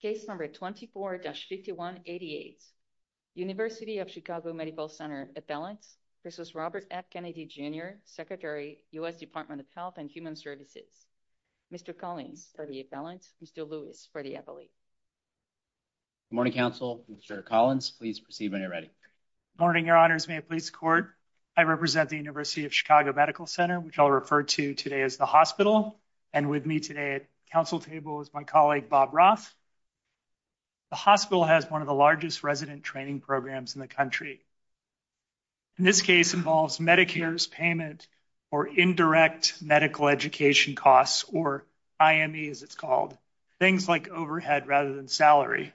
Case number 24-5188, University of Chicago Medical Center, appellants versus Robert F. Kennedy Jr., Secretary, U.S. Department of Health and Human Services. Mr. Collins for the appellants, Mr. Lewis for the appellate. Good morning, counsel. Mr. Collins, please proceed when you're ready. Good morning, your honors. May it please the court, I represent the University of Chicago Medical Center, which I'll refer to today as the hospital, and with me today at counsel table is my colleague Bob Roth. The hospital has one of the largest resident training programs in the country. In this case involves Medicare's payment or indirect medical education costs, or IME as it's called, things like overhead rather than salary.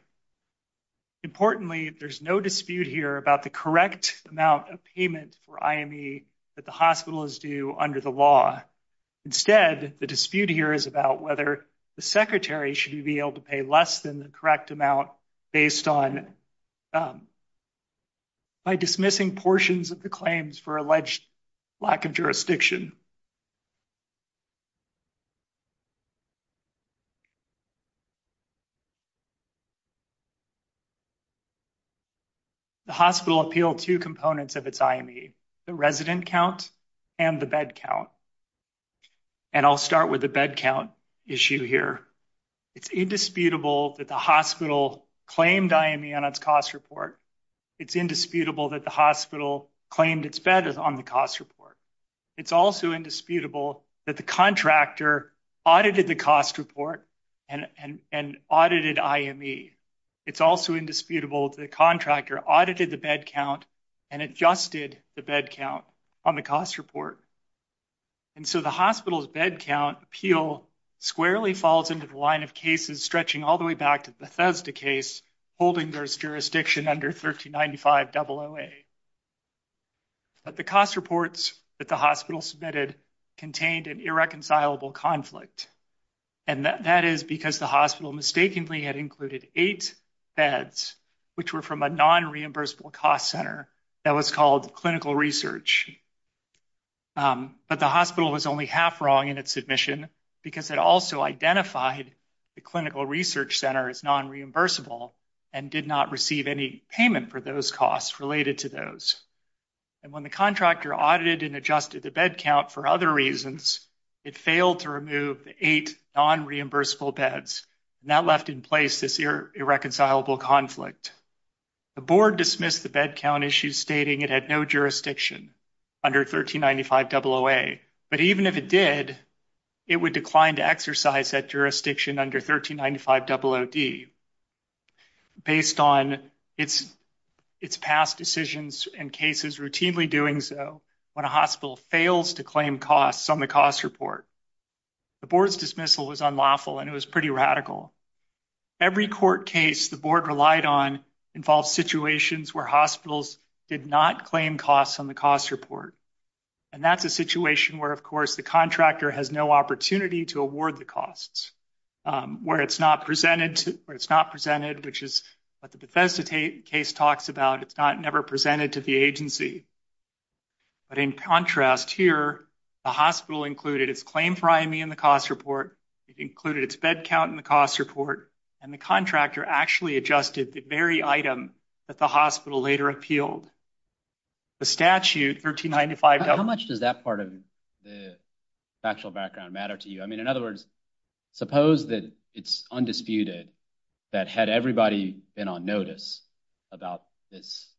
Importantly, there's no dispute here about the correct amount of payment for IME that the secretary should be able to pay less than the correct amount based on by dismissing portions of the claims for alleged lack of jurisdiction. The hospital appealed two components of its IME, the resident count and the bed count, and I'll start with the bed count issue here. It's indisputable that the hospital claimed IME on its cost report. It's indisputable that the hospital claimed its bed on the cost report. It's also indisputable that the contractor audited the cost report and audited IME. It's also indisputable that the contractor audited the bed count and adjusted the bed count on the cost report. And so the hospital's bed count appeal squarely falls into the line of cases stretching all the way back to the Bethesda case holding their jurisdiction under 1395-00A. But the cost reports that the hospital submitted contained an irreconcilable conflict. And that is because the hospital mistakenly had included eight beds which were from a non-reimbursable cost center that was called clinical research. But the hospital was only half wrong in its submission because it also identified the clinical research center as non-reimbursable and did not receive any payment for those costs related to those. And when the contractor audited and adjusted the bed count for other reasons, it failed to remove the eight non-reimbursable beds. And that left in place this irreconcilable conflict. The board dismissed the bed count issue stating it had no jurisdiction under 1395-00A. But even if it did, it would decline to exercise that jurisdiction under 1395-00D based on its past decisions and cases routinely doing so when a hospital fails to claim costs on cost report. The board's dismissal was unlawful and it was pretty radical. Every court case the board relied on involved situations where hospitals did not claim costs on the cost report. And that's a situation where, of course, the contractor has no opportunity to award the costs where it's not presented, which is what the Bethesda case talks about. It's never presented to the agency. But in contrast here, the hospital included its claim for IME in the cost report, it included its bed count in the cost report, and the contractor actually adjusted the very item that the hospital later appealed. The statute, 1395-00A. How much does that part of the factual background matter to you? I mean, in other words, suppose that it's undisputed that had everybody been on notice about this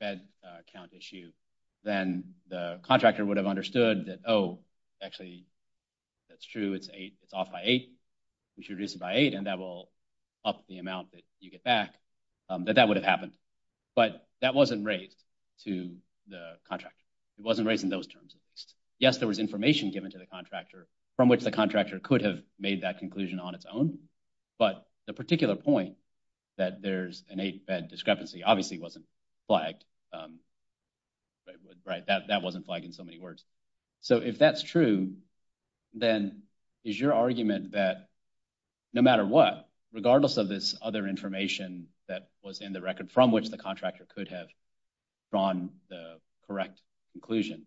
bed count issue, then the contractor would have understood that, oh, actually, that's true. It's off by eight. We should reduce it by eight, and that will up the amount that you get back, that that would have happened. But that wasn't raised to the contractor. It wasn't raised in those terms. Yes, there was information given to the contractor from which the contractor could have made that conclusion on its own. But the particular point that there's an eight-bed discrepancy obviously wasn't flagged. Right, that wasn't flagged in so many words. So if that's true, then is your argument that no matter what, regardless of this other information that was in the record from which the contractor could have drawn the correct conclusion,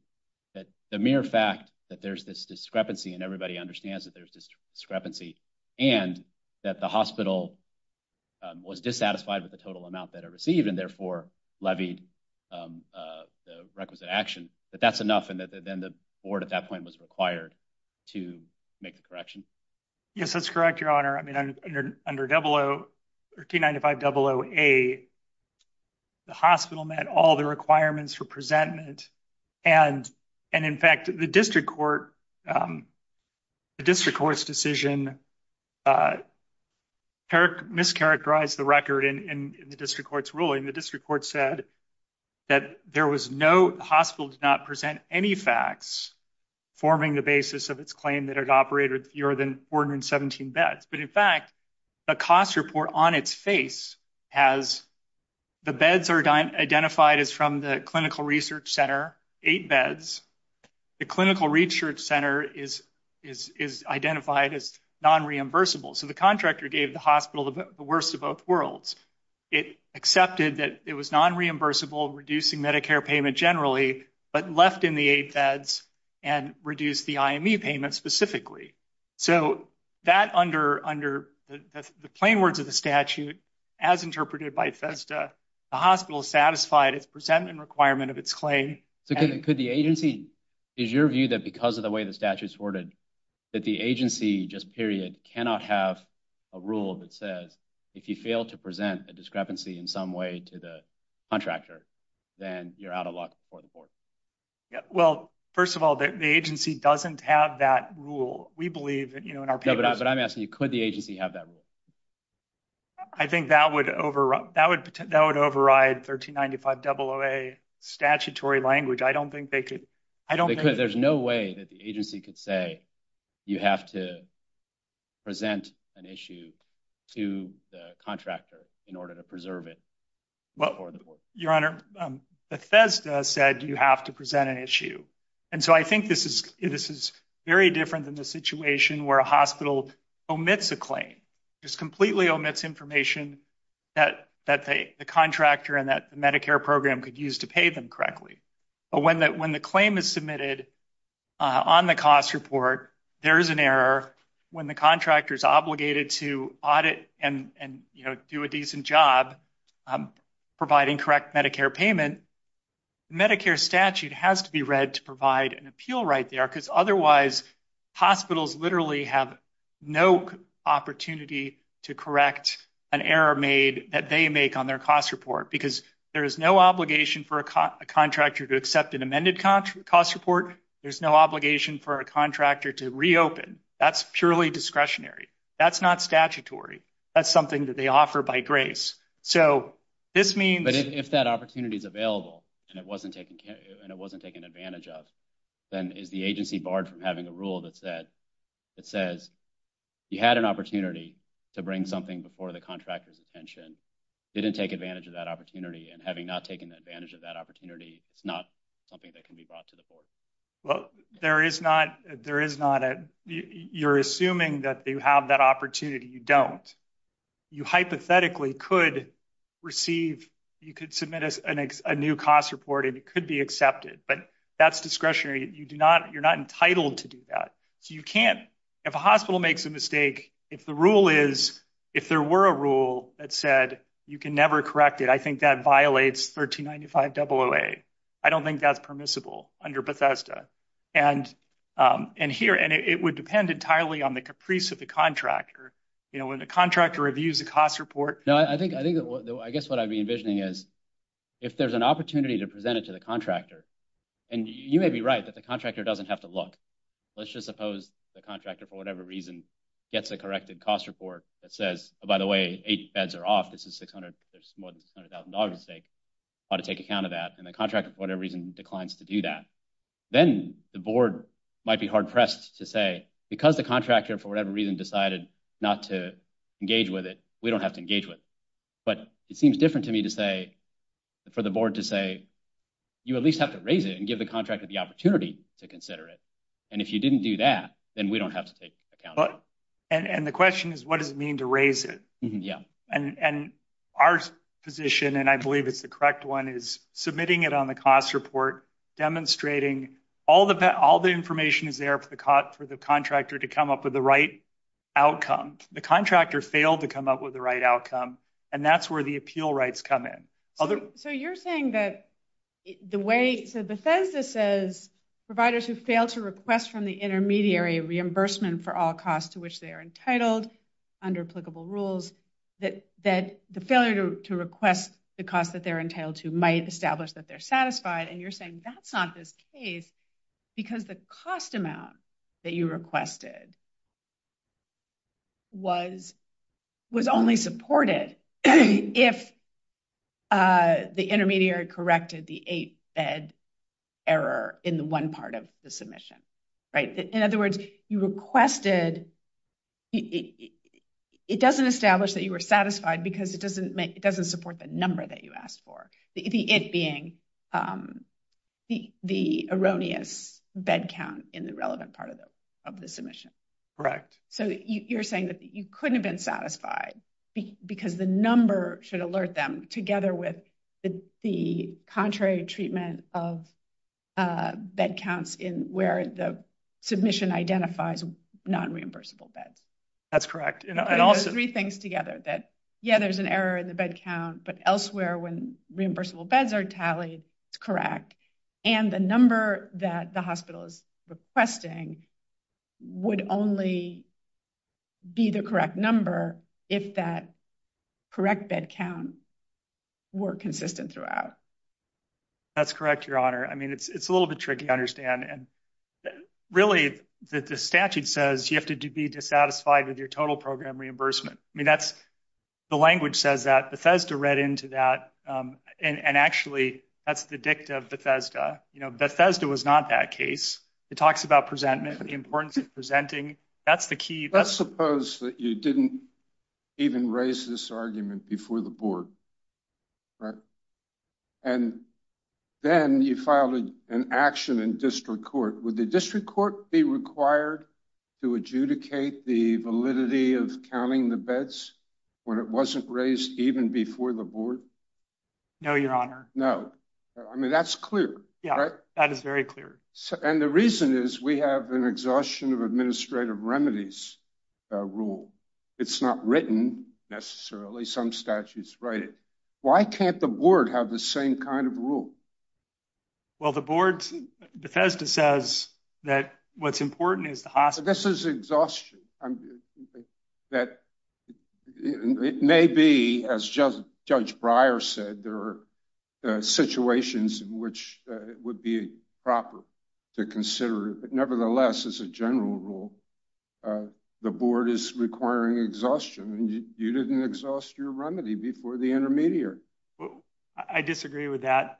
that the mere fact that there's discrepancy and everybody understands that there's discrepancy and that the hospital was dissatisfied with the total amount that it received and therefore levied the requisite action, that that's enough and that then the board at that point was required to make the correction? Yes, that's correct, Your Honor. I mean, under D-95-00A, the hospital met all the requirements for presentment. And in fact, the district court's decision mischaracterized the record in the district court's ruling. The district court said that the hospital did not present any facts forming the basis of its claim that it operated fewer than 417 beds. But in fact, the cost report on its face has the beds are identified as from the clinical research center, eight beds. The clinical research center is identified as non-reimbursable. So the contractor gave the hospital the worst of both worlds. It accepted that it was non-reimbursable, reducing Medicare payment generally, but left in the eight beds and reduced the IME payment specifically. So that under the plain words of the statute, as interpreted by FESTA, the hospital satisfied its presentment requirement of its claim. So could the agency, is your view that because of the way the statute's worded, that the agency just period cannot have a rule that says if you fail to present a discrepancy in some way to the contractor, then you're out of luck for the board? Well, first of all, the agency doesn't have that rule. We believe that, you know, in our papers. But I'm asking you, could the agency have that rule? I think that would override 1395-00A statutory language. I don't think they could. I don't think there's no way that the agency could say you have to present an issue to the contractor in order to preserve it. Your Honor, the FESTA said you have to present an issue. And so I think this is very different than the situation where a hospital omits a claim, just completely omits information that the contractor and that the Medicare program could use to pay them correctly. But when the claim is submitted on the cost report, there is an error when the contractor is obligated to audit and, you know, do a decent job providing correct Medicare payment. Medicare statute has to be read to provide an appeal right there because otherwise hospitals literally have no opportunity to correct an error made that they make on their cost report because there is no obligation for a contractor to accept an amended cost report. There's no obligation for a contractor to reopen. That's purely discretionary. That's not statutory. That's something that they offer by grace. So this means... But if that opportunity is available and it wasn't taken advantage of, then is the agency barred from having a rule that says you had an opportunity to bring something before the contractor's attention, didn't take advantage of that opportunity, and having not advantage of that opportunity, it's not something that can be brought to the board? Well, there is not... You're assuming that you have that opportunity. You don't. You hypothetically could receive... You could submit a new cost report and it could be accepted, but that's discretionary. You're not entitled to do that. So you can't... If a hospital makes a mistake, if the rule is... If there were a rule that said you can never correct it, I think that violates 1395-00A. I don't think that's permissible under Bethesda. And here... And it would depend entirely on the caprice of the contractor. When the contractor reviews the cost report... I guess what I'd be envisioning is if there's an opportunity to present it to the contractor... And you may be right that the contractor doesn't have to look. Let's just suppose the contractor, for whatever reason, gets a corrected cost report that says, oh, by the way, eight beds are off. This is 600... There's more than $600,000 at stake. I ought to take account of that. And the contractor, for whatever reason, declines to do that. Then the board might be hard pressed to say, because the contractor, for whatever reason, decided not to engage with it, we don't have to engage with it. But it seems different to me to say... For the board to say, you at least have to raise it and give the contractor the opportunity to consider it. And if you didn't do that, then we don't have to take account of it. And the question is, what does it mean to raise it? And our position, and I believe it's the correct one, is submitting it on the cost report, demonstrating all the information is there for the contractor to come up with the right outcome. The contractor failed to come up with the right outcome. And that's where the appeal rights come in. So you're saying that the way... So Bethesda says, providers who fail to request from the intermediary reimbursement for all costs to which they are entitled under applicable rules, that the failure to request the cost that they're entitled to might establish that they're satisfied. And you're saying that's not this case, because the cost amount that you requested was only supported if the intermediary corrected the bed error in the one part of the submission, right? In other words, you requested... It doesn't establish that you were satisfied because it doesn't support the number that you asked for, the it being the erroneous bed count in the relevant part of the submission. Correct. So you're saying that you couldn't have been satisfied because the number should alert them, together with the contrary treatment of bed counts in where the submission identifies non-reimbursable beds. That's correct. You're putting those three things together that, yeah, there's an error in the bed count, but elsewhere when reimbursable beds are tallied, it's correct. And the number that the hospital is requesting would only be the correct number if that correct bed count were consistent throughout. That's correct, Your Honor. I mean, it's a little bit tricky, I understand. And really, the statute says you have to be dissatisfied with your total program reimbursement. The language says that. Bethesda read into that. And actually, that's the dicta of Bethesda. Bethesda was not that case. It talks about presentment, the importance of presenting. That's the key. Let's suppose that you didn't even raise this argument before the board. And then you filed an action in district court. Would the district court be required to adjudicate the validity of counting the beds when it wasn't raised even before the board? No, Your Honor. No. I mean, that's clear. That is very clear. And the reason is we have an exhaustion of administrative remedies rule. It's not written, necessarily. Some statutes write it. Why can't the board have the same kind of rule? Well, the board, Bethesda says that what's important is the hospital. This is exhaustion. It may be, as Judge Breyer said, there are situations in which it would be proper to consider it. But nevertheless, as a general rule, the board is requiring exhaustion. And you didn't exhaust your remedy before the intermediary. I disagree with that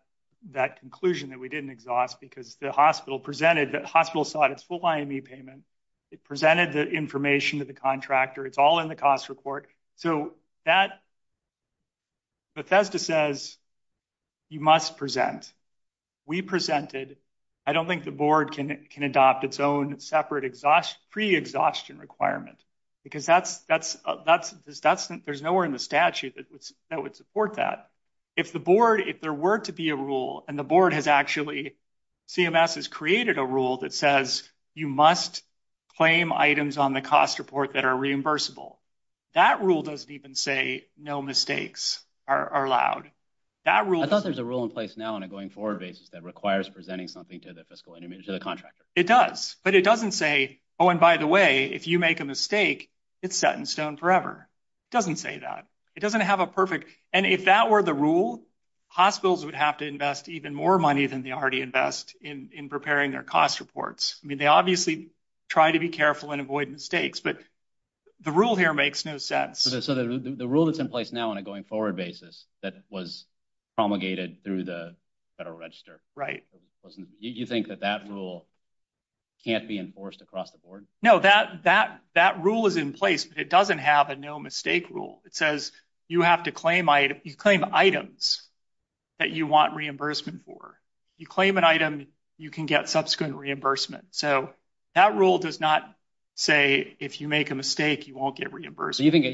conclusion that we didn't exhaust because the hospital presented, the hospital sought its full IME payment. It presented the information to the contractor. It's all in the cost report. So Bethesda says you must present. We presented. I don't think the board can adopt its own separate pre-exhaustion requirement because there's nowhere in the statute that would support that. If the board, if there were to be a rule and the board has actually, CMS has created a rule that says you must claim items on the cost report that are reimbursable. That rule doesn't even say no mistakes are allowed. I thought there's a rule in place now on a going forward basis that requires presenting something to the fiscal intermediary, to the contractor. It does, but it doesn't say, oh, and by the way, if you make a mistake, it's set in stone forever. It doesn't say that. It doesn't have a perfect, and if that were the rule, hospitals would have to invest even more money than they already invest in preparing their cost reports. I mean, they obviously try to be careful and avoid mistakes, but the rule here makes no sense. So the rule that's in place now on a going forward basis that was promulgated through the federal register, you think that that rule can't be enforced across the board? No, that rule is in place, but it doesn't have a no mistake rule. It says you have to claim items that you want reimbursement for. You claim an item, you can get subsequent reimbursement. So that rule does not say if you make a mistake, you won't get reimbursed. You think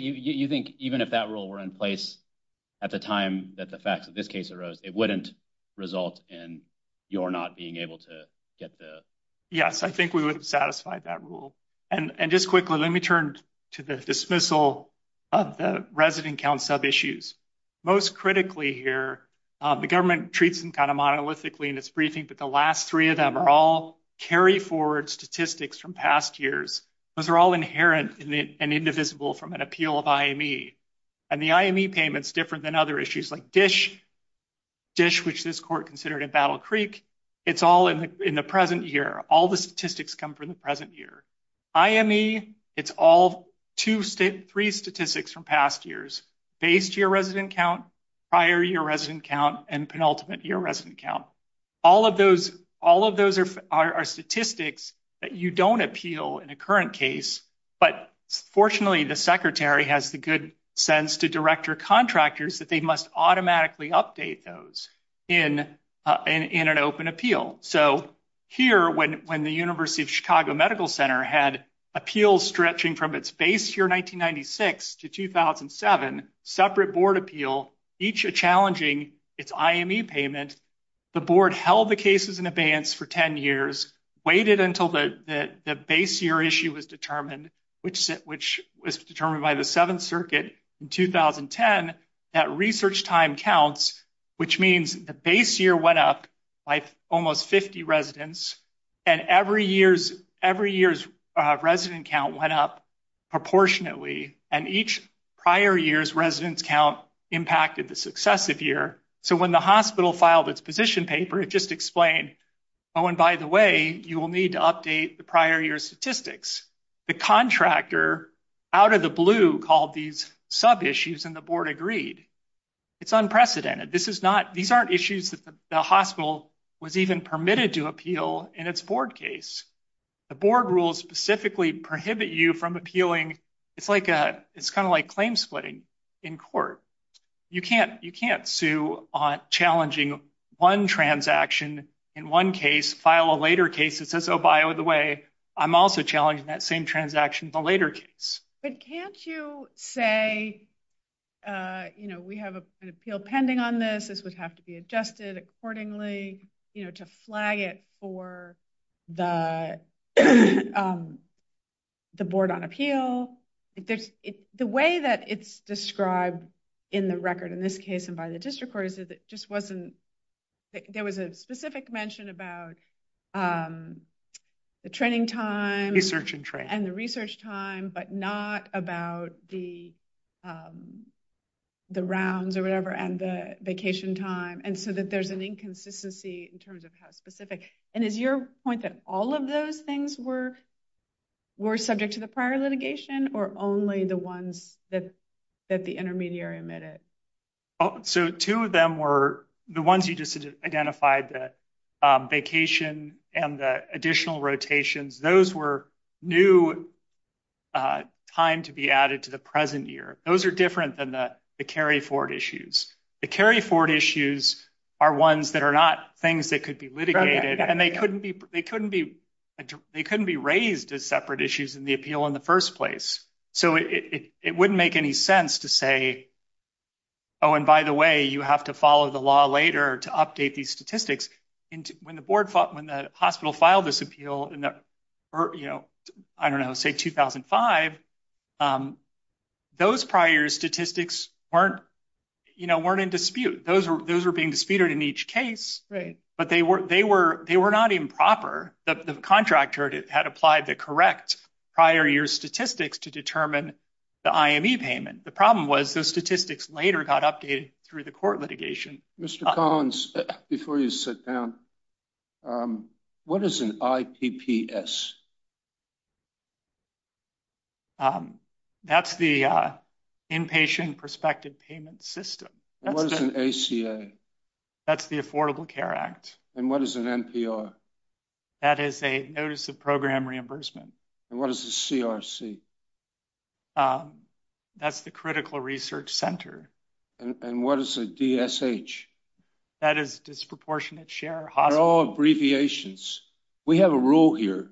even if that rule were in place at the time that the facts of this case arose, it wouldn't result in your not being able to get the... Yes, I think we would have satisfied that rule. And just quickly, let me turn to the dismissal of the resident count sub-issues. Most critically here, the government treats them kind of monolithically in its briefing, but the last three of them are all carry forward statistics from past years. Those are all inherent and indivisible from an appeal of IME. And the IME payment's different than other issues like DISH, which this court considered in Battle Creek. It's all in the present year. All the statistics come from the present year. IME, it's all three statistics from past years, based year resident count, prior year resident count, and penultimate year resident count. All of those are statistics that you don't appeal in a current case, but fortunately, the secretary has the good sense to direct your contractors that they must automatically update those in an open appeal. So here, when the University of Chicago Medical Center had appeals stretching from its base year 1996 to 2007, separate board appeal, each challenging its IME payment, the board held the cases in abeyance for 10 years, waited until the base year issue was determined, which was determined by the Seventh Circuit in 2010, that research time counts, which means the base year went up by almost 50 residents, and every year's resident count went up proportionately, and each prior year's resident count impacted the successive year. So when the hospital filed its position paper, it just explained, oh, and by the way, you will need to update the prior year's statistics. The contractor out of the blue called these sub-issues, and the board agreed. It's unprecedented. This is not, these aren't issues that the hospital was even permitted to appeal in its board case. The board rules specifically prohibit you from appealing. It's like, it's kind of like claim splitting in court. You can't sue on challenging one transaction in one case, file a later case that says, oh, by the way, I'm also challenging that same transaction in the later case. But can't you say, you know, we have an appeal pending on this, this would have to be adjusted accordingly, you know, to flag it for the the board on appeal. The way that it's described in the record in this case, and by the district court, is that it just wasn't, there was a specific mention about the training time, and the research time, but not about the rounds or whatever, and the vacation time, and so that there's an inconsistency in terms of how specific, and is your point that all of those things were were subject to the prior litigation, or only the ones that that the intermediary omitted? So two of them were the ones you just identified, the vacation and the additional rotations, those were new time to be added to the present year. Those are different than the carry forward issues. The carry forward issues are ones that are not things that could be litigated, and they couldn't be raised as separate issues in the appeal in the first place. So it wouldn't make any sense to say, oh, and by the way, you have to follow the law later to update these statistics. And when the board fought, when the hospital filed this appeal in the, you know, I don't know, say 2005, those prior year statistics weren't, you know, weren't in dispute. Those were being disputed in each case, but they were not improper. The contractor had applied the correct prior year statistics to determine the IME payment. The problem was those statistics later got updated through the court litigation. Mr. Collins, before you sit down, what is an IPPS? That's the Inpatient Prospective Payment System. What is an ACA? That's the Affordable Care Act. And what is an NPR? That is a Notice of Program Reimbursement. And what is the CRC? That's the Critical Research Center. And what is a DSH? That is Disproportionate Share Hospital. They're all abbreviations. We have a rule here,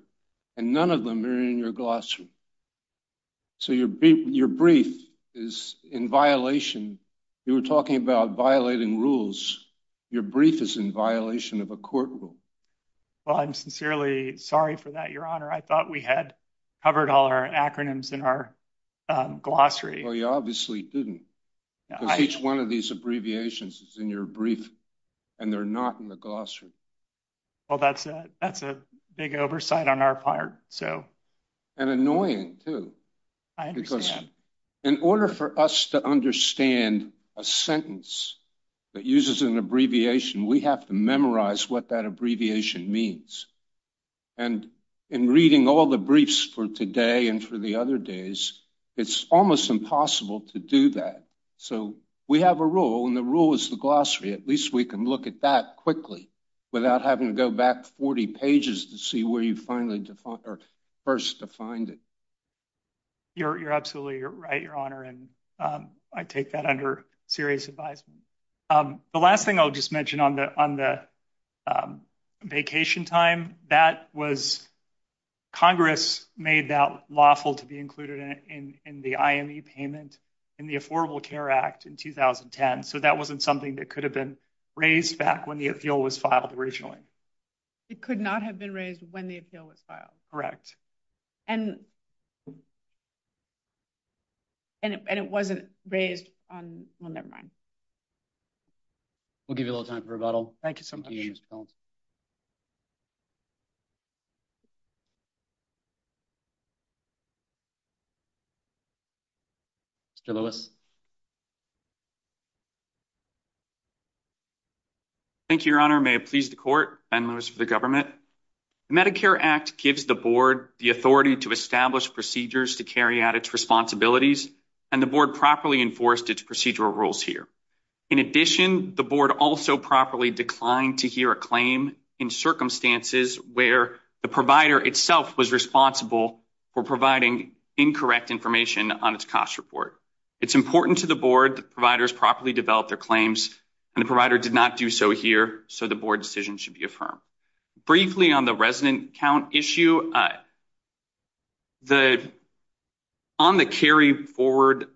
and none of them are in your glossary. So your brief is in violation. You were talking about violating rules. Your brief is in violation of a court rule. Well, I'm sincerely sorry for that, Your Honor. I thought we had covered all our acronyms in our glossary. Well, you obviously didn't. Each one of these abbreviations is in your brief, and they're not in the glossary. Well, that's a big oversight on our part. And annoying, too. I understand. In order for us to understand a sentence that uses an abbreviation, we have to memorize what that abbreviation means. And in reading all the briefs for today and for the other days, it's almost impossible to do that. So we have a rule, and the rule is the glossary. At least we can look at that quickly without having to go back 40 pages to see where you first defined it. You're absolutely right, Your Honor. And I take that under serious advisement. The last thing I'll just mention on the vacation time, that was Congress made that lawful to be in the IME payment in the Affordable Care Act in 2010. So that wasn't something that could have been raised back when the appeal was filed originally. It could not have been raised when the appeal was filed. Correct. And it wasn't raised on, well, never mind. We'll give you a little time for rebuttal. Thank you so much. Mr. Lewis. Thank you, Your Honor. May it please the court. Ben Lewis for the government. The Medicare Act gives the board the authority to establish procedures to carry out its responsibilities, and the board properly enforced its procedural rules here. In addition, the board also properly declined to hear a claim in circumstances where the provider itself was responsible for providing incorrect information on its cost report. It's important to the board that providers properly develop their claims, and the provider did not do so here, so the board should be affirmed. Briefly on the resident count issue, on the carry forward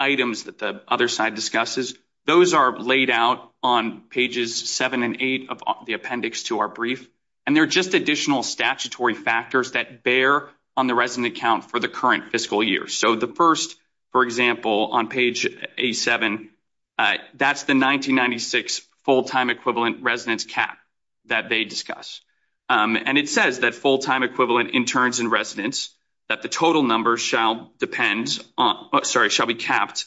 items that the other side discusses, those are laid out on pages 7 and 8 of the appendix to our brief, and they're just additional statutory factors that bear on the resident count for the current fiscal year. So the first, for example, on page A7, that's the 1996 full-time equivalent residence cap that they discuss. And it says that full-time equivalent interns and residents, that the total number shall depend on, sorry, shall be capped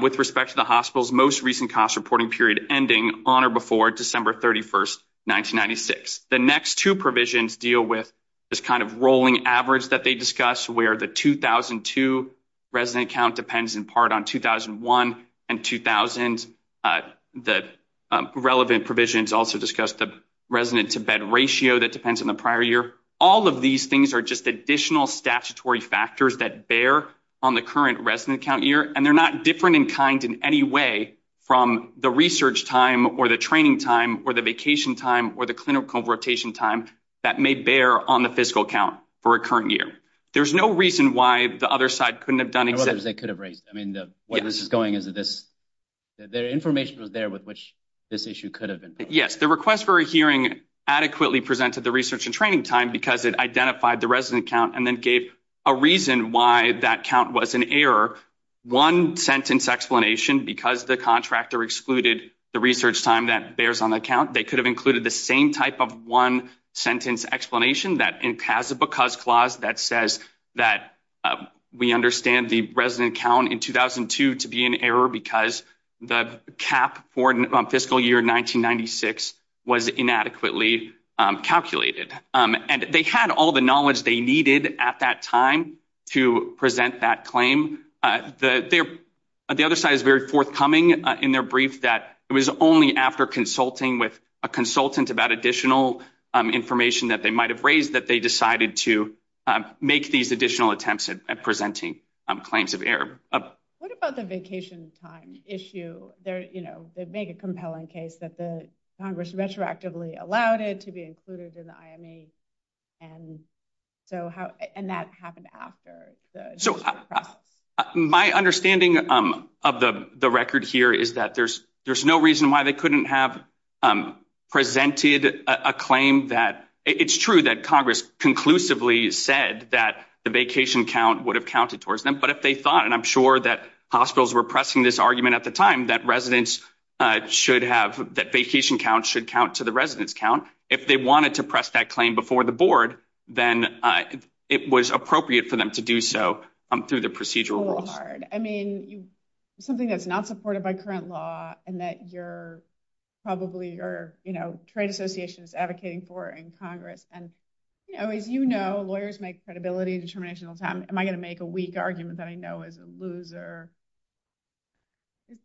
with respect to the hospital's most recent cost reporting period ending on or before December 31st, 1996. The next two provisions deal with this kind of rolling average that they discuss, where the 2002 resident count depends in part on 2001 and 2000. The relevant provisions also discuss the resident-to-bed ratio that depends on the prior year. All of these things are just additional statutory factors that bear on the current resident count year, and they're not different in kind in any way from the research time or the training time or the vacation time or the clinical rotation time that may bear on the fiscal count for a current year. There's no reason why the other side couldn't have done it. I mean, what this is going is that this, the information was there with which this issue could have been. Yes, the request for a hearing adequately presented the research and training time because it identified the resident count and then gave a reason why that count was an error. One sentence explanation, because the contractor excluded the research time that bears on the count, they could have included the same type of one-sentence explanation that has a because clause that says that we understand the resident count in 2002 to be an error because the cap for fiscal year 1996 was inadequately calculated. And they had all the knowledge they needed at that time to present that claim. The other side is very forthcoming in their brief that it was only after consulting with a consultant about additional information that they might have raised that they decided to make these additional attempts at presenting claims of error. What about the vacation time issue? They're, you know, they make a compelling case that the Congress retroactively allowed it to be included in the IME. And so how, and that happened after? So my understanding of the record here is that there's no reason why they couldn't have presented a claim that, it's true that Congress conclusively said that the vacation count would have counted towards them, but if they thought, and I'm sure that hospitals were pressing this argument at the time, that residents should have, that vacation count should residents count. If they wanted to press that claim before the board, then it was appropriate for them to do so through the procedural rules. I mean, something that's not supported by current law and that you're probably, or, you know, trade association is advocating for in Congress. And, you know, as you know, lawyers make credibility and determination all the time. Am I going to make a weak argument that I know is a loser?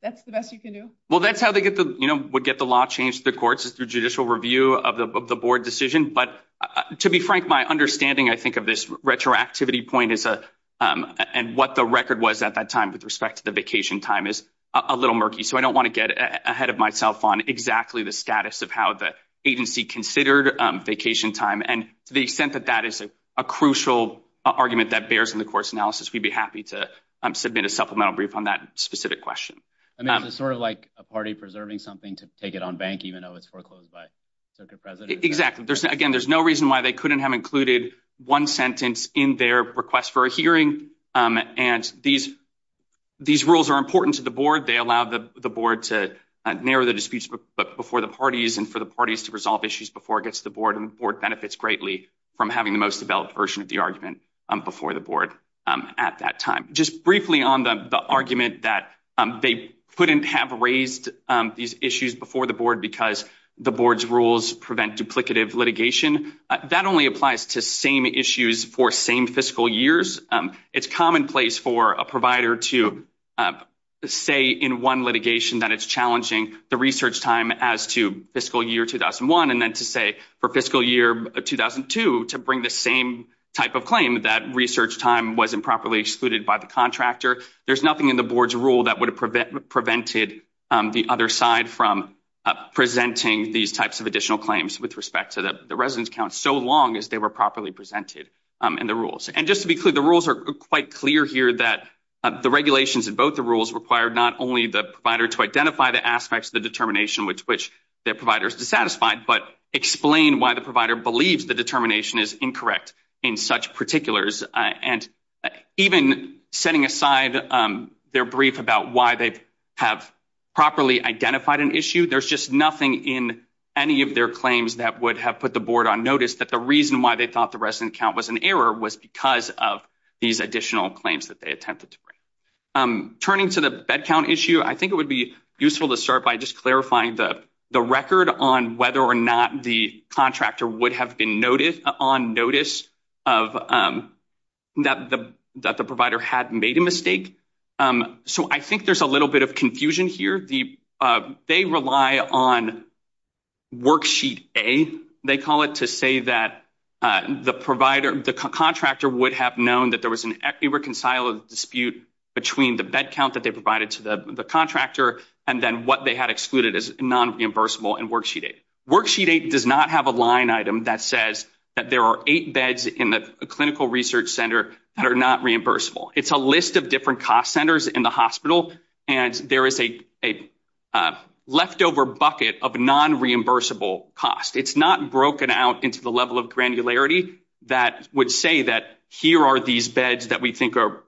That's the best you can do? Well, that's how would get the law changed to the courts is through judicial review of the board decision. But to be frank, my understanding, I think of this retroactivity point is, and what the record was at that time with respect to the vacation time is a little murky. So I don't want to get ahead of myself on exactly the status of how the agency considered vacation time. And to the extent that that is a crucial argument that bears in the course analysis, we'd be happy to submit a to take it on bank, even though it's foreclosed by the president. Exactly. There's again, there's no reason why they couldn't have included one sentence in their request for a hearing. And these, these rules are important to the board. They allow the board to narrow the disputes before the parties and for the parties to resolve issues before it gets to the board and board benefits greatly from having the most developed version of the argument before the at that time, just briefly on the argument that they couldn't have raised these issues before the board because the board's rules prevent duplicative litigation. That only applies to same issues for same fiscal years. It's commonplace for a provider to say in one litigation that it's challenging the research time as to fiscal year 2001 and then to say for fiscal year 2002 to bring the same type of claim that research time wasn't properly excluded by the contractor. There's nothing in the board's rule that would have prevented prevented the other side from presenting these types of additional claims with respect to the residence count so long as they were properly presented in the rules. And just to be clear, the rules are quite clear here that the regulations in both the rules required not only the provider to identify the aspects of the determination with which their providers dissatisfied, but explain why the provider believes the determination is incorrect in such particulars. And even setting aside their brief about why they have properly identified an issue, there's just nothing in any of their claims that would have put the board on notice that the reason why they thought the resident count was an error was because of these additional claims that they attempted to bring. Turning to the bed count issue, I think it would be useful to start by just clarifying the record on whether or not the contractor would have been on notice that the provider had made a mistake. So I think there's a little bit of confusion here. They rely on worksheet A, they call it, to say that the contractor would have known that there was an irreconcilable dispute between the bed count that they provided to the contractor and then what they had excluded as non-reimbursable in worksheet A. Worksheet A does not have a line item that says that there are eight beds in the clinical research center that are not reimbursable. It's a list of different cost centers in the hospital, and there is a leftover bucket of non-reimbursable cost. It's not broken out into the level of granularity that would say that here are these beds that we think are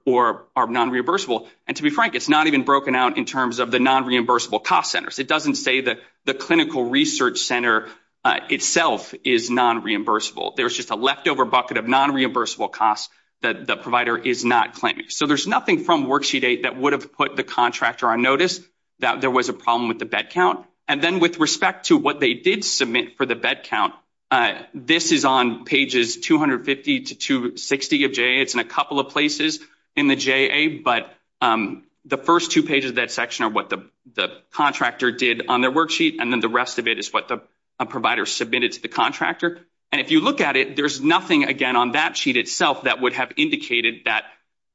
non-reimbursable. And to be frank, it's not even broken out in terms of the non-reimbursable cost centers. It doesn't say that the clinical research center itself is non-reimbursable. There's just a leftover bucket of non-reimbursable cost that the provider is not claiming. So there's nothing from worksheet A that would have put the contractor on notice that there was a problem with the bed count. And then with respect to what they did submit for the bed count, this is on pages 250 to 260 of JA. It's in a couple of places in the JA, but the first two pages of that section are what the contractor did on their worksheet, and then the rest of it is what the provider submitted to the contractor. And if you look at it, there's nothing, again, on that sheet itself that would have indicated that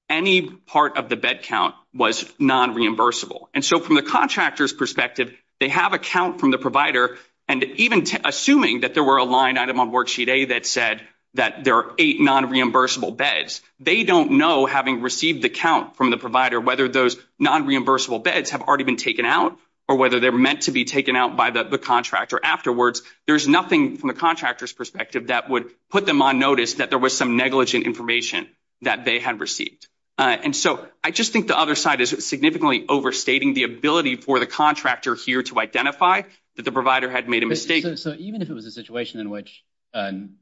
any part of the bed count was non-reimbursable. And so from the contractor's perspective, they have a count from the provider, and even assuming that there were a line item on worksheet A that said that there are eight non-reimbursable beds, they don't know, having received the count from the provider, whether those non-reimbursable beds have already been taken out or whether they're meant to be by the contractor afterwards, there's nothing from the contractor's perspective that would put them on notice that there was some negligent information that they had received. And so I just think the other side is significantly overstating the ability for the contractor here to identify that the provider had made a mistake. So even if it was a situation in which, I'm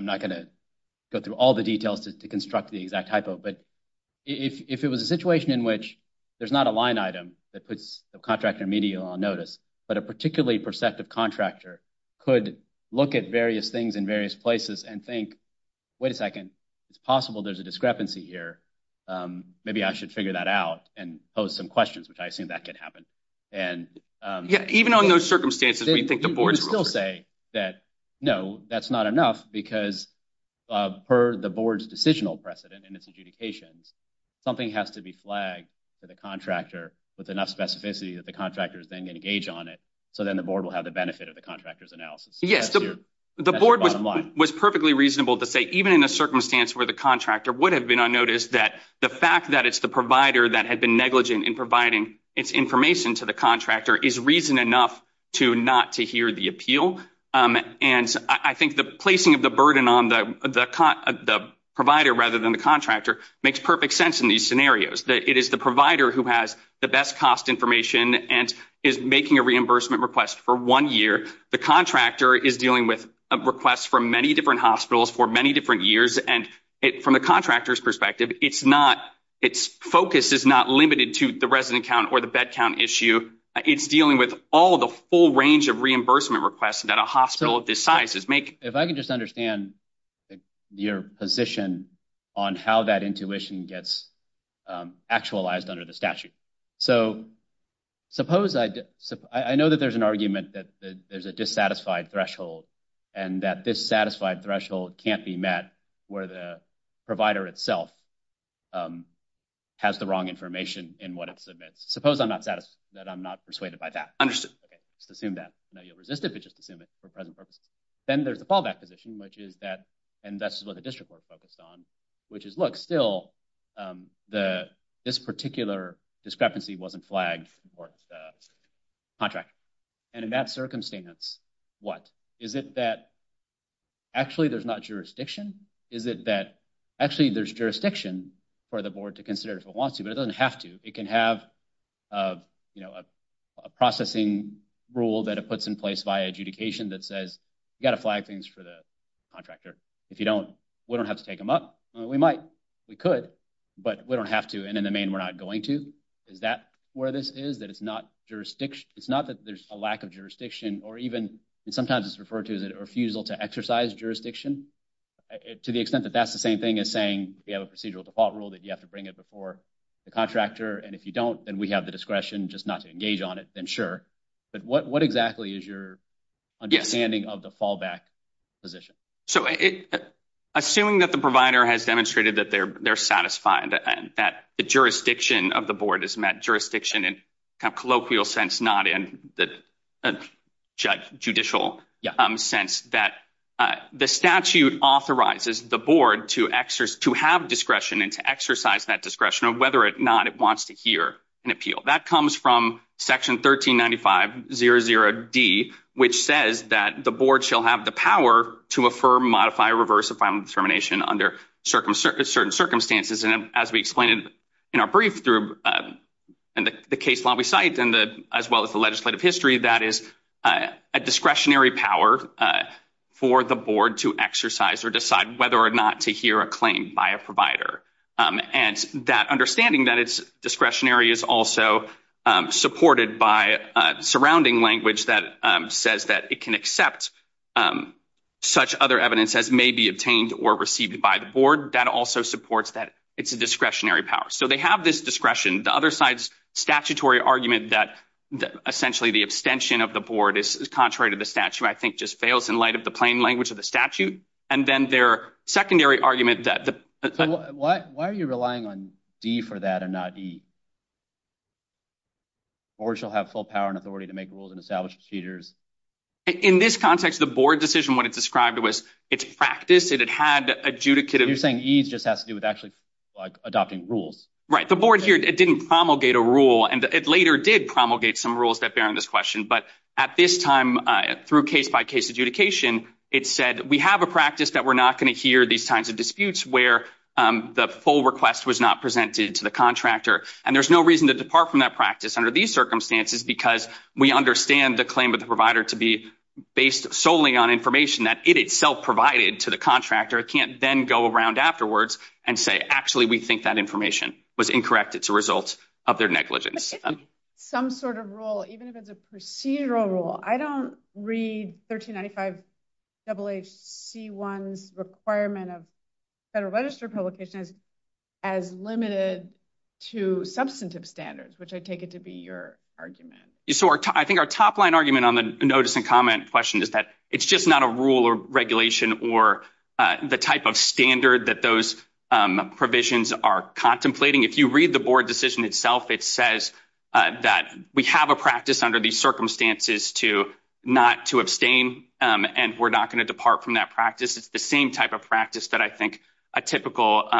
not going to go through all the details to construct the exact hypo, but if it was a situation in which there's not a line item that puts the contractor immediately on notice, but a particularly perceptive contractor could look at various things in various places and think, wait a second, it's possible there's a discrepancy here. Maybe I should figure that out and pose some questions, which I assume that could happen. And even on those circumstances, we think the board will still say that, no, that's not enough because per the board's decisional precedent and its adjudications, something has to be flagged to the contractor with enough specificity that the board will have the benefit of the contractor's analysis. Yes. The board was perfectly reasonable to say, even in a circumstance where the contractor would have been on notice that the fact that it's the provider that had been negligent in providing its information to the contractor is reason enough to not to hear the appeal. And I think the placing of the burden on the provider rather than the contractor makes perfect sense in these circumstances. If I can just understand your position on how that intuition gets actualized under the statute. I know that there's an argument that there's a dissatisfied threshold and that this satisfied threshold can't be met where the provider itself has the wrong information in what it submits. Suppose I'm not persuaded by that. Okay. Just assume that. I know you'll resist it, but just assume it for present purposes. Then there's the fallback position, which is that, and that's what the district board focused on, which is, look, still this particular discrepancy wasn't flagged for the contractor. And in that circumstance, what? Is it that actually there's not jurisdiction? Is it that actually there's jurisdiction for the board to consider if it wants to, but it doesn't have to. It can have a processing rule that it puts in place via adjudication that says, you got to flag things for the contractor. If you don't, we don't have to take them up. We might, we could, but we don't have to. And in the main, we're not going to. Is that where this is that it's not jurisdiction? It's not that there's a lack of jurisdiction or even sometimes it's referred to as a refusal to exercise jurisdiction to the extent that that's the same thing as saying you have a procedural default rule that you have to bring it before the contractor. And if you don't, then we have the discretion just not to engage on it. Then sure. But what exactly is your understanding of the fallback position? So, assuming that the provider has demonstrated that they're satisfied and that the jurisdiction of the board is met jurisdiction and kind of colloquial sense, not in the judicial sense, that the statute authorizes the board to have discretion and to exercise that discretion of whether or not it wants to hear an appeal that comes from section 1395-00-D, which says that the board shall have the power to affirm, modify, or reverse a final determination under certain circumstances. And as we explained in our brief through the case law we cite and as well as the legislative history, that is a discretionary power for the board to exercise or decide whether or not to hear a claim by a provider. And that understanding that it's discretionary is also supported by surrounding language that says that it can accept such other evidence as may be obtained or received by the board. That also supports that it's a discretionary power. So, they have this discretion. The other side's statutory argument that essentially the abstention of the board is contrary to the statute, I think just fails in light of the plain language of the statute. And then their secondary argument that... So, why are you relying on D for that and not E? The board shall have full power and authority to make rules and establish procedures. In this context, the board decision, what it described was its practice. It had adjudicated... You're saying E just has to do with actually like adopting rules. Right. The board here, it didn't promulgate a rule and it later did promulgate some rules that bear on this question. But at this time, through case-by-case adjudication, it said we have a practice that we're not going to hear these kinds of disputes where the full request was not presented to the contractor. And there's no reason to depart from that practice under these circumstances because we understand the claim of the provider to be based solely on information that it itself provided to the contractor. It can't then go around afterwards and say, actually, we think that information was incorrect. It's a result of their negligence. Some sort of rule, even if it's a procedural rule. I don't read 1395-HHC1's requirement of federal registered publication as limited to substantive standards, which I take it to be your argument. So I think our top line argument on the notice and comment question is that it's just not a rule or regulation or the type of standard that those provisions are contemplating. If you read the board decision itself, it says that we have a practice under these circumstances to not to abstain and we're not going to depart from that practice. It's the same type of practice that I a typical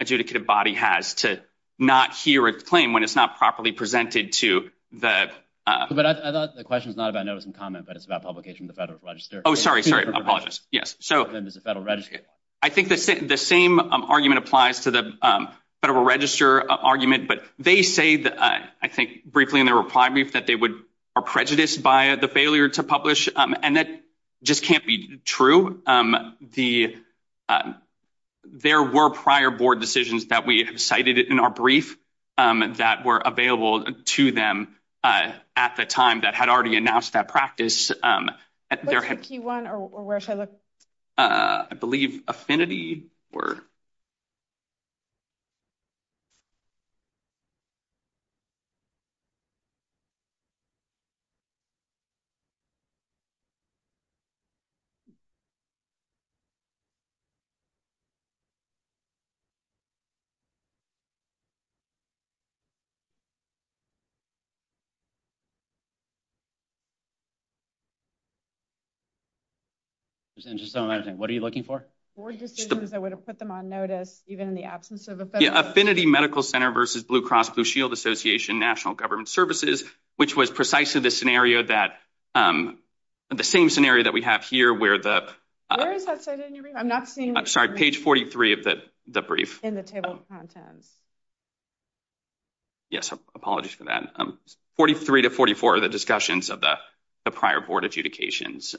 adjudicative body has to not hear a claim when it's not properly presented to the- But I thought the question is not about notice and comment, but it's about publication of the federal register. Oh, sorry. Sorry. I apologize. Yes. So then there's a federal register. I think the same argument applies to the federal register argument, but they say that, I think briefly in their reply brief, that they are prejudiced by the failure to publish. And that just can't be true. There were prior board decisions that we have cited in our brief that were available to them at the time that had already announced that practice. What's the Q1, or where should I look? I believe affinity or- There's interest on everything. What are you looking for? Board decisions that would have put them on notice even in the absence of- Affinity Medical Center versus Blue Cross Blue Shield Association National Government Services, which was precisely the same scenario that we have here where the- Where is that cited in your brief? I'm not seeing- Sorry. Page 43 of the brief. In the table of contents. Yes. Apologies for that. 43 to 44 are the discussions of the prior board adjudications.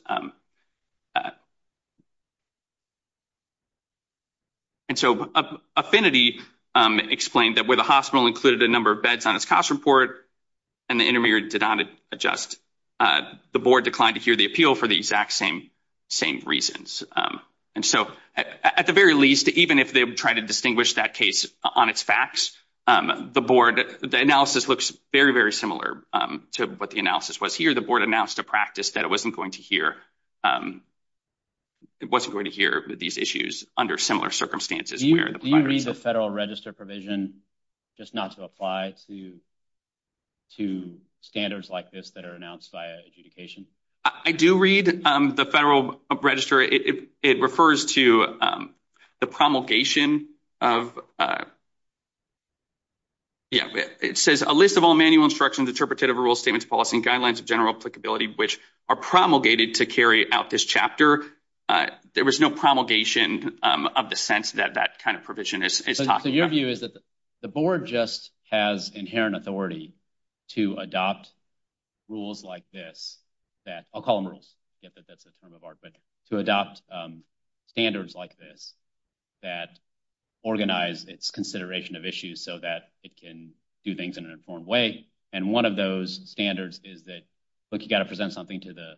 And so affinity explained that where the hospital included a number of beds on its cost report, and the intermediary did not adjust, the board declined to hear the appeal for the exact same reasons. And so at the very least, even if they would try to distinguish that case on its facts, the analysis looks very, very similar to what the analysis was here. The board announced a practice that it wasn't going to hear these issues under similar circumstances. Do you read the federal register provision just not to apply to standards like this that are announced by adjudication? I do read the federal register. It refers to the promulgation of- Yeah. It says a list of all manual instructions, interpretative rules, statements, policy, and guidelines of general applicability, which are promulgated to carry out this chapter. There was no promulgation of the sense that that kind of provision is talking about. So your view is that the board just has inherent authority to adopt rules like this that- I'll call them rules. I get that that's a term of art, but to adopt standards like this that organize its consideration of issues so that it can do things in an informed way. And one of those standards is that, look, you got to present something to the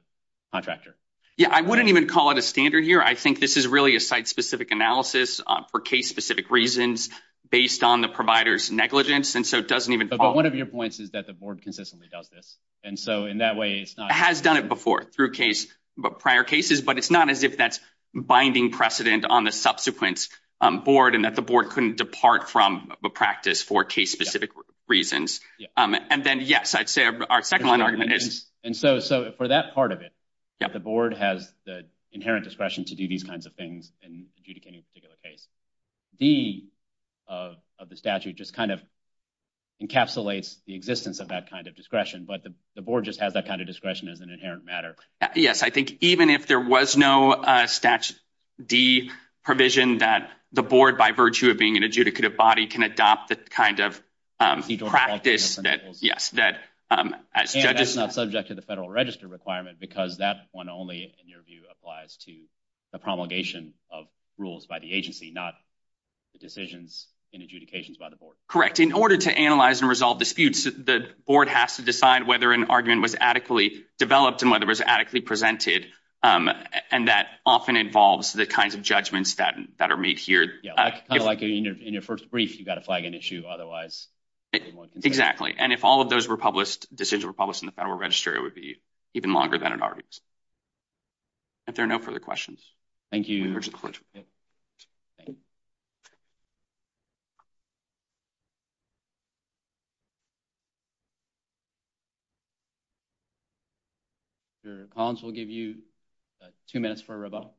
contractor. Yeah. I wouldn't even call it a standard here. I think this is really a site-specific analysis for case-specific reasons based on the provider's negligence. And so it doesn't even- But one of your points is that the board consistently does this. And so in that way, it's not- It has done it before, through prior cases, but it's not as if that's binding precedent on the subsequent board and that the board couldn't depart from a practice for case-specific reasons. And then, yes, I'd say our second line argument is- So for that part of it, the board has the inherent discretion to do these kinds of things in adjudicating a particular case. D of the statute just kind of encapsulates the existence of that kind of discretion, but the board just has that kind of discretion as an inherent matter. Yes. I think even if there was no statute- D provision that the board, by virtue of being an adjudicative body, can adopt the kind of practice that, yes, that as judges- The federal register requirement, because that one only, in your view, applies to the promulgation of rules by the agency, not the decisions and adjudications by the board. Correct. In order to analyze and resolve disputes, the board has to decide whether an argument was adequately developed and whether it was adequately presented. And that often involves the kinds of judgments that are made here. Yeah. Kind of like in your first brief, you've got to flag an issue. Otherwise- Exactly. And if all of those decisions were published in the federal register, it would be even longer than an argument. If there are no further questions. Thank you. Mr. Collins, we'll give you two minutes for a rebuttal.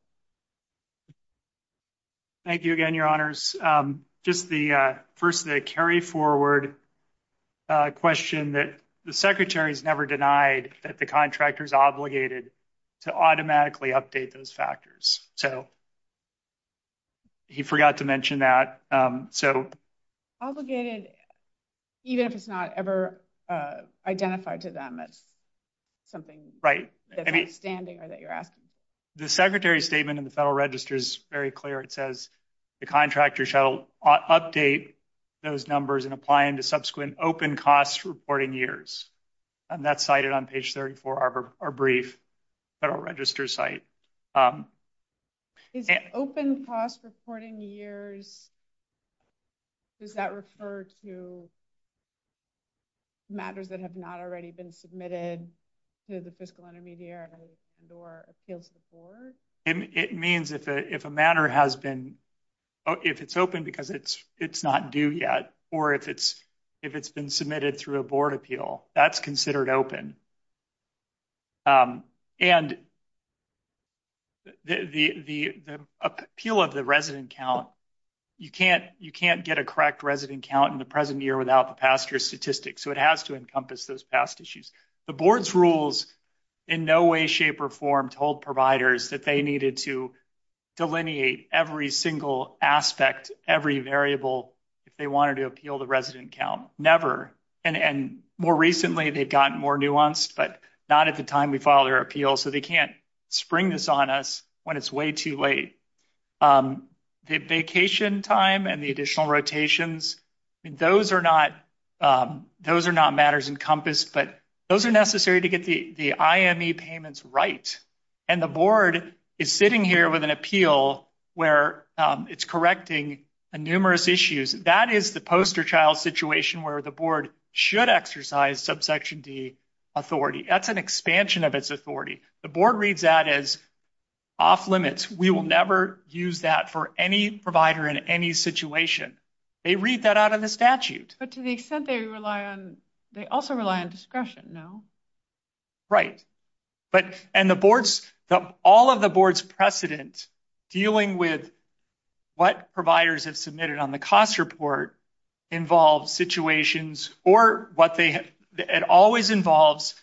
Thank you again, your honors. Just the, first, the carry forward question that the secretary has never denied that the contractor is obligated to automatically update those factors. So, he forgot to mention that. So- Obligated, even if it's not ever identified to them as something- Right. That's outstanding or that you're asking. The secretary's statement in the federal register is very clear. It says, the contractor shall update those numbers and apply them to subsequent open cost reporting years. And that's cited on page 34 of our brief federal register site. Is open cost reporting years, does that refer to matters that have not already been submitted to the fiscal intermediary and or appeals to the board? It means if a matter has been, if it's open because it's not due yet, or if it's been submitted through a board appeal, that's considered open. And the appeal of the resident count, you can't get a correct resident count in the present year without the past year's statistics. So, it has to encompass those past issues. The board's rules in no way, shape, or form told providers that they needed to delineate every single aspect, every variable, if they wanted to appeal the resident count. Never. And more recently, they've gotten more nuanced, but not at the time we filed their appeal. So, they can't spring this on us when it's way too late. The vacation time and the are necessary to get the IME payments right. And the board is sitting here with an appeal where it's correcting numerous issues. That is the poster child situation where the board should exercise subsection D authority. That's an expansion of its authority. The board reads that as off limits. We will never use that for any provider in any situation. They read that out of the statute. But to the extent they rely on, they also rely on discretion, no? Right. And the board's, all of the board's precedent dealing with what providers have submitted on the cost report involves situations or what they have, it always involves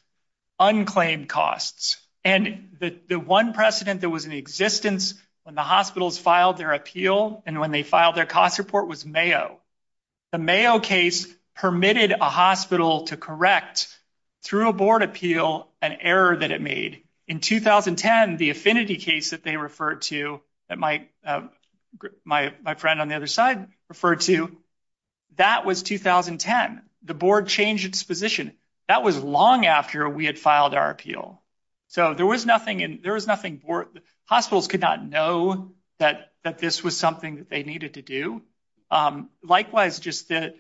unclaimed costs. And the one precedent that was in existence when the hospitals filed their appeal and when they filed their cost report was Mayo. The Mayo case permitted a hospital to correct, through a board appeal, an error that it made. In 2010, the affinity case that they referred to, that my friend on the other side referred to, that was 2010. The board changed its position. That was long after we had filed our appeal. So, there was nothing, there was nothing, hospitals could not know that this was something that they needed to do. Likewise, just that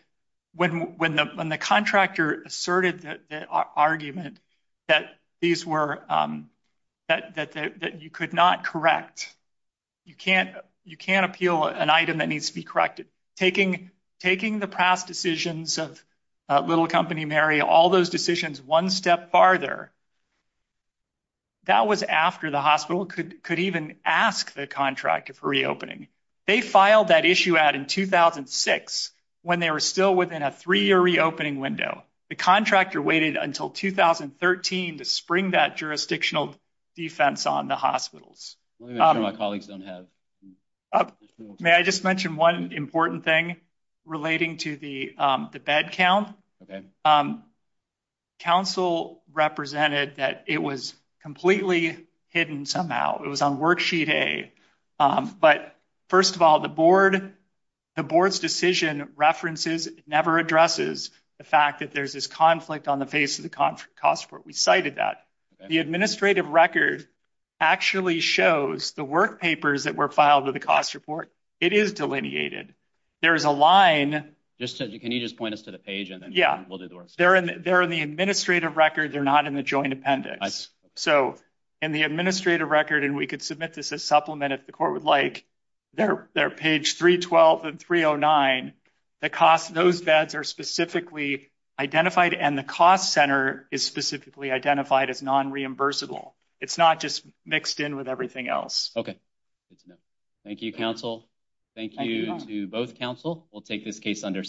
when the contractor asserted the argument that these were, that you could not correct, you can't appeal an item that needs to be corrected. Taking the past decisions of Little Company, Mary, all those decisions one step farther, that was after the hospital could even ask the contractor for reopening. They filed that issue out in 2006 when they were still within a three-year reopening window. The contractor waited until 2013 to spring that jurisdictional defense on the hospitals. May I just mention one important thing relating to the bed count? Okay. Council represented that it was completely hidden somehow. It was on Worksheet A. But, first of all, the board's decision references, never addresses, the fact that there's this conflict on the face of the cost report. We cited that. The administrative record actually shows the work papers that were filed with the cost report. It is delineated. There is a line. Can you just point us to the page and then we'll do the work? They're in the administrative record. They're not in the joint appendix. In the administrative record, and we could submit this as supplement if the court would like, they're page 312 and 309. Those beds are specifically identified and the cost center is specifically identified as non-reimbursable. It's not just mixed in with everything else. Okay. Thank you, Council. Thank you to both Council. We'll take this case under submission.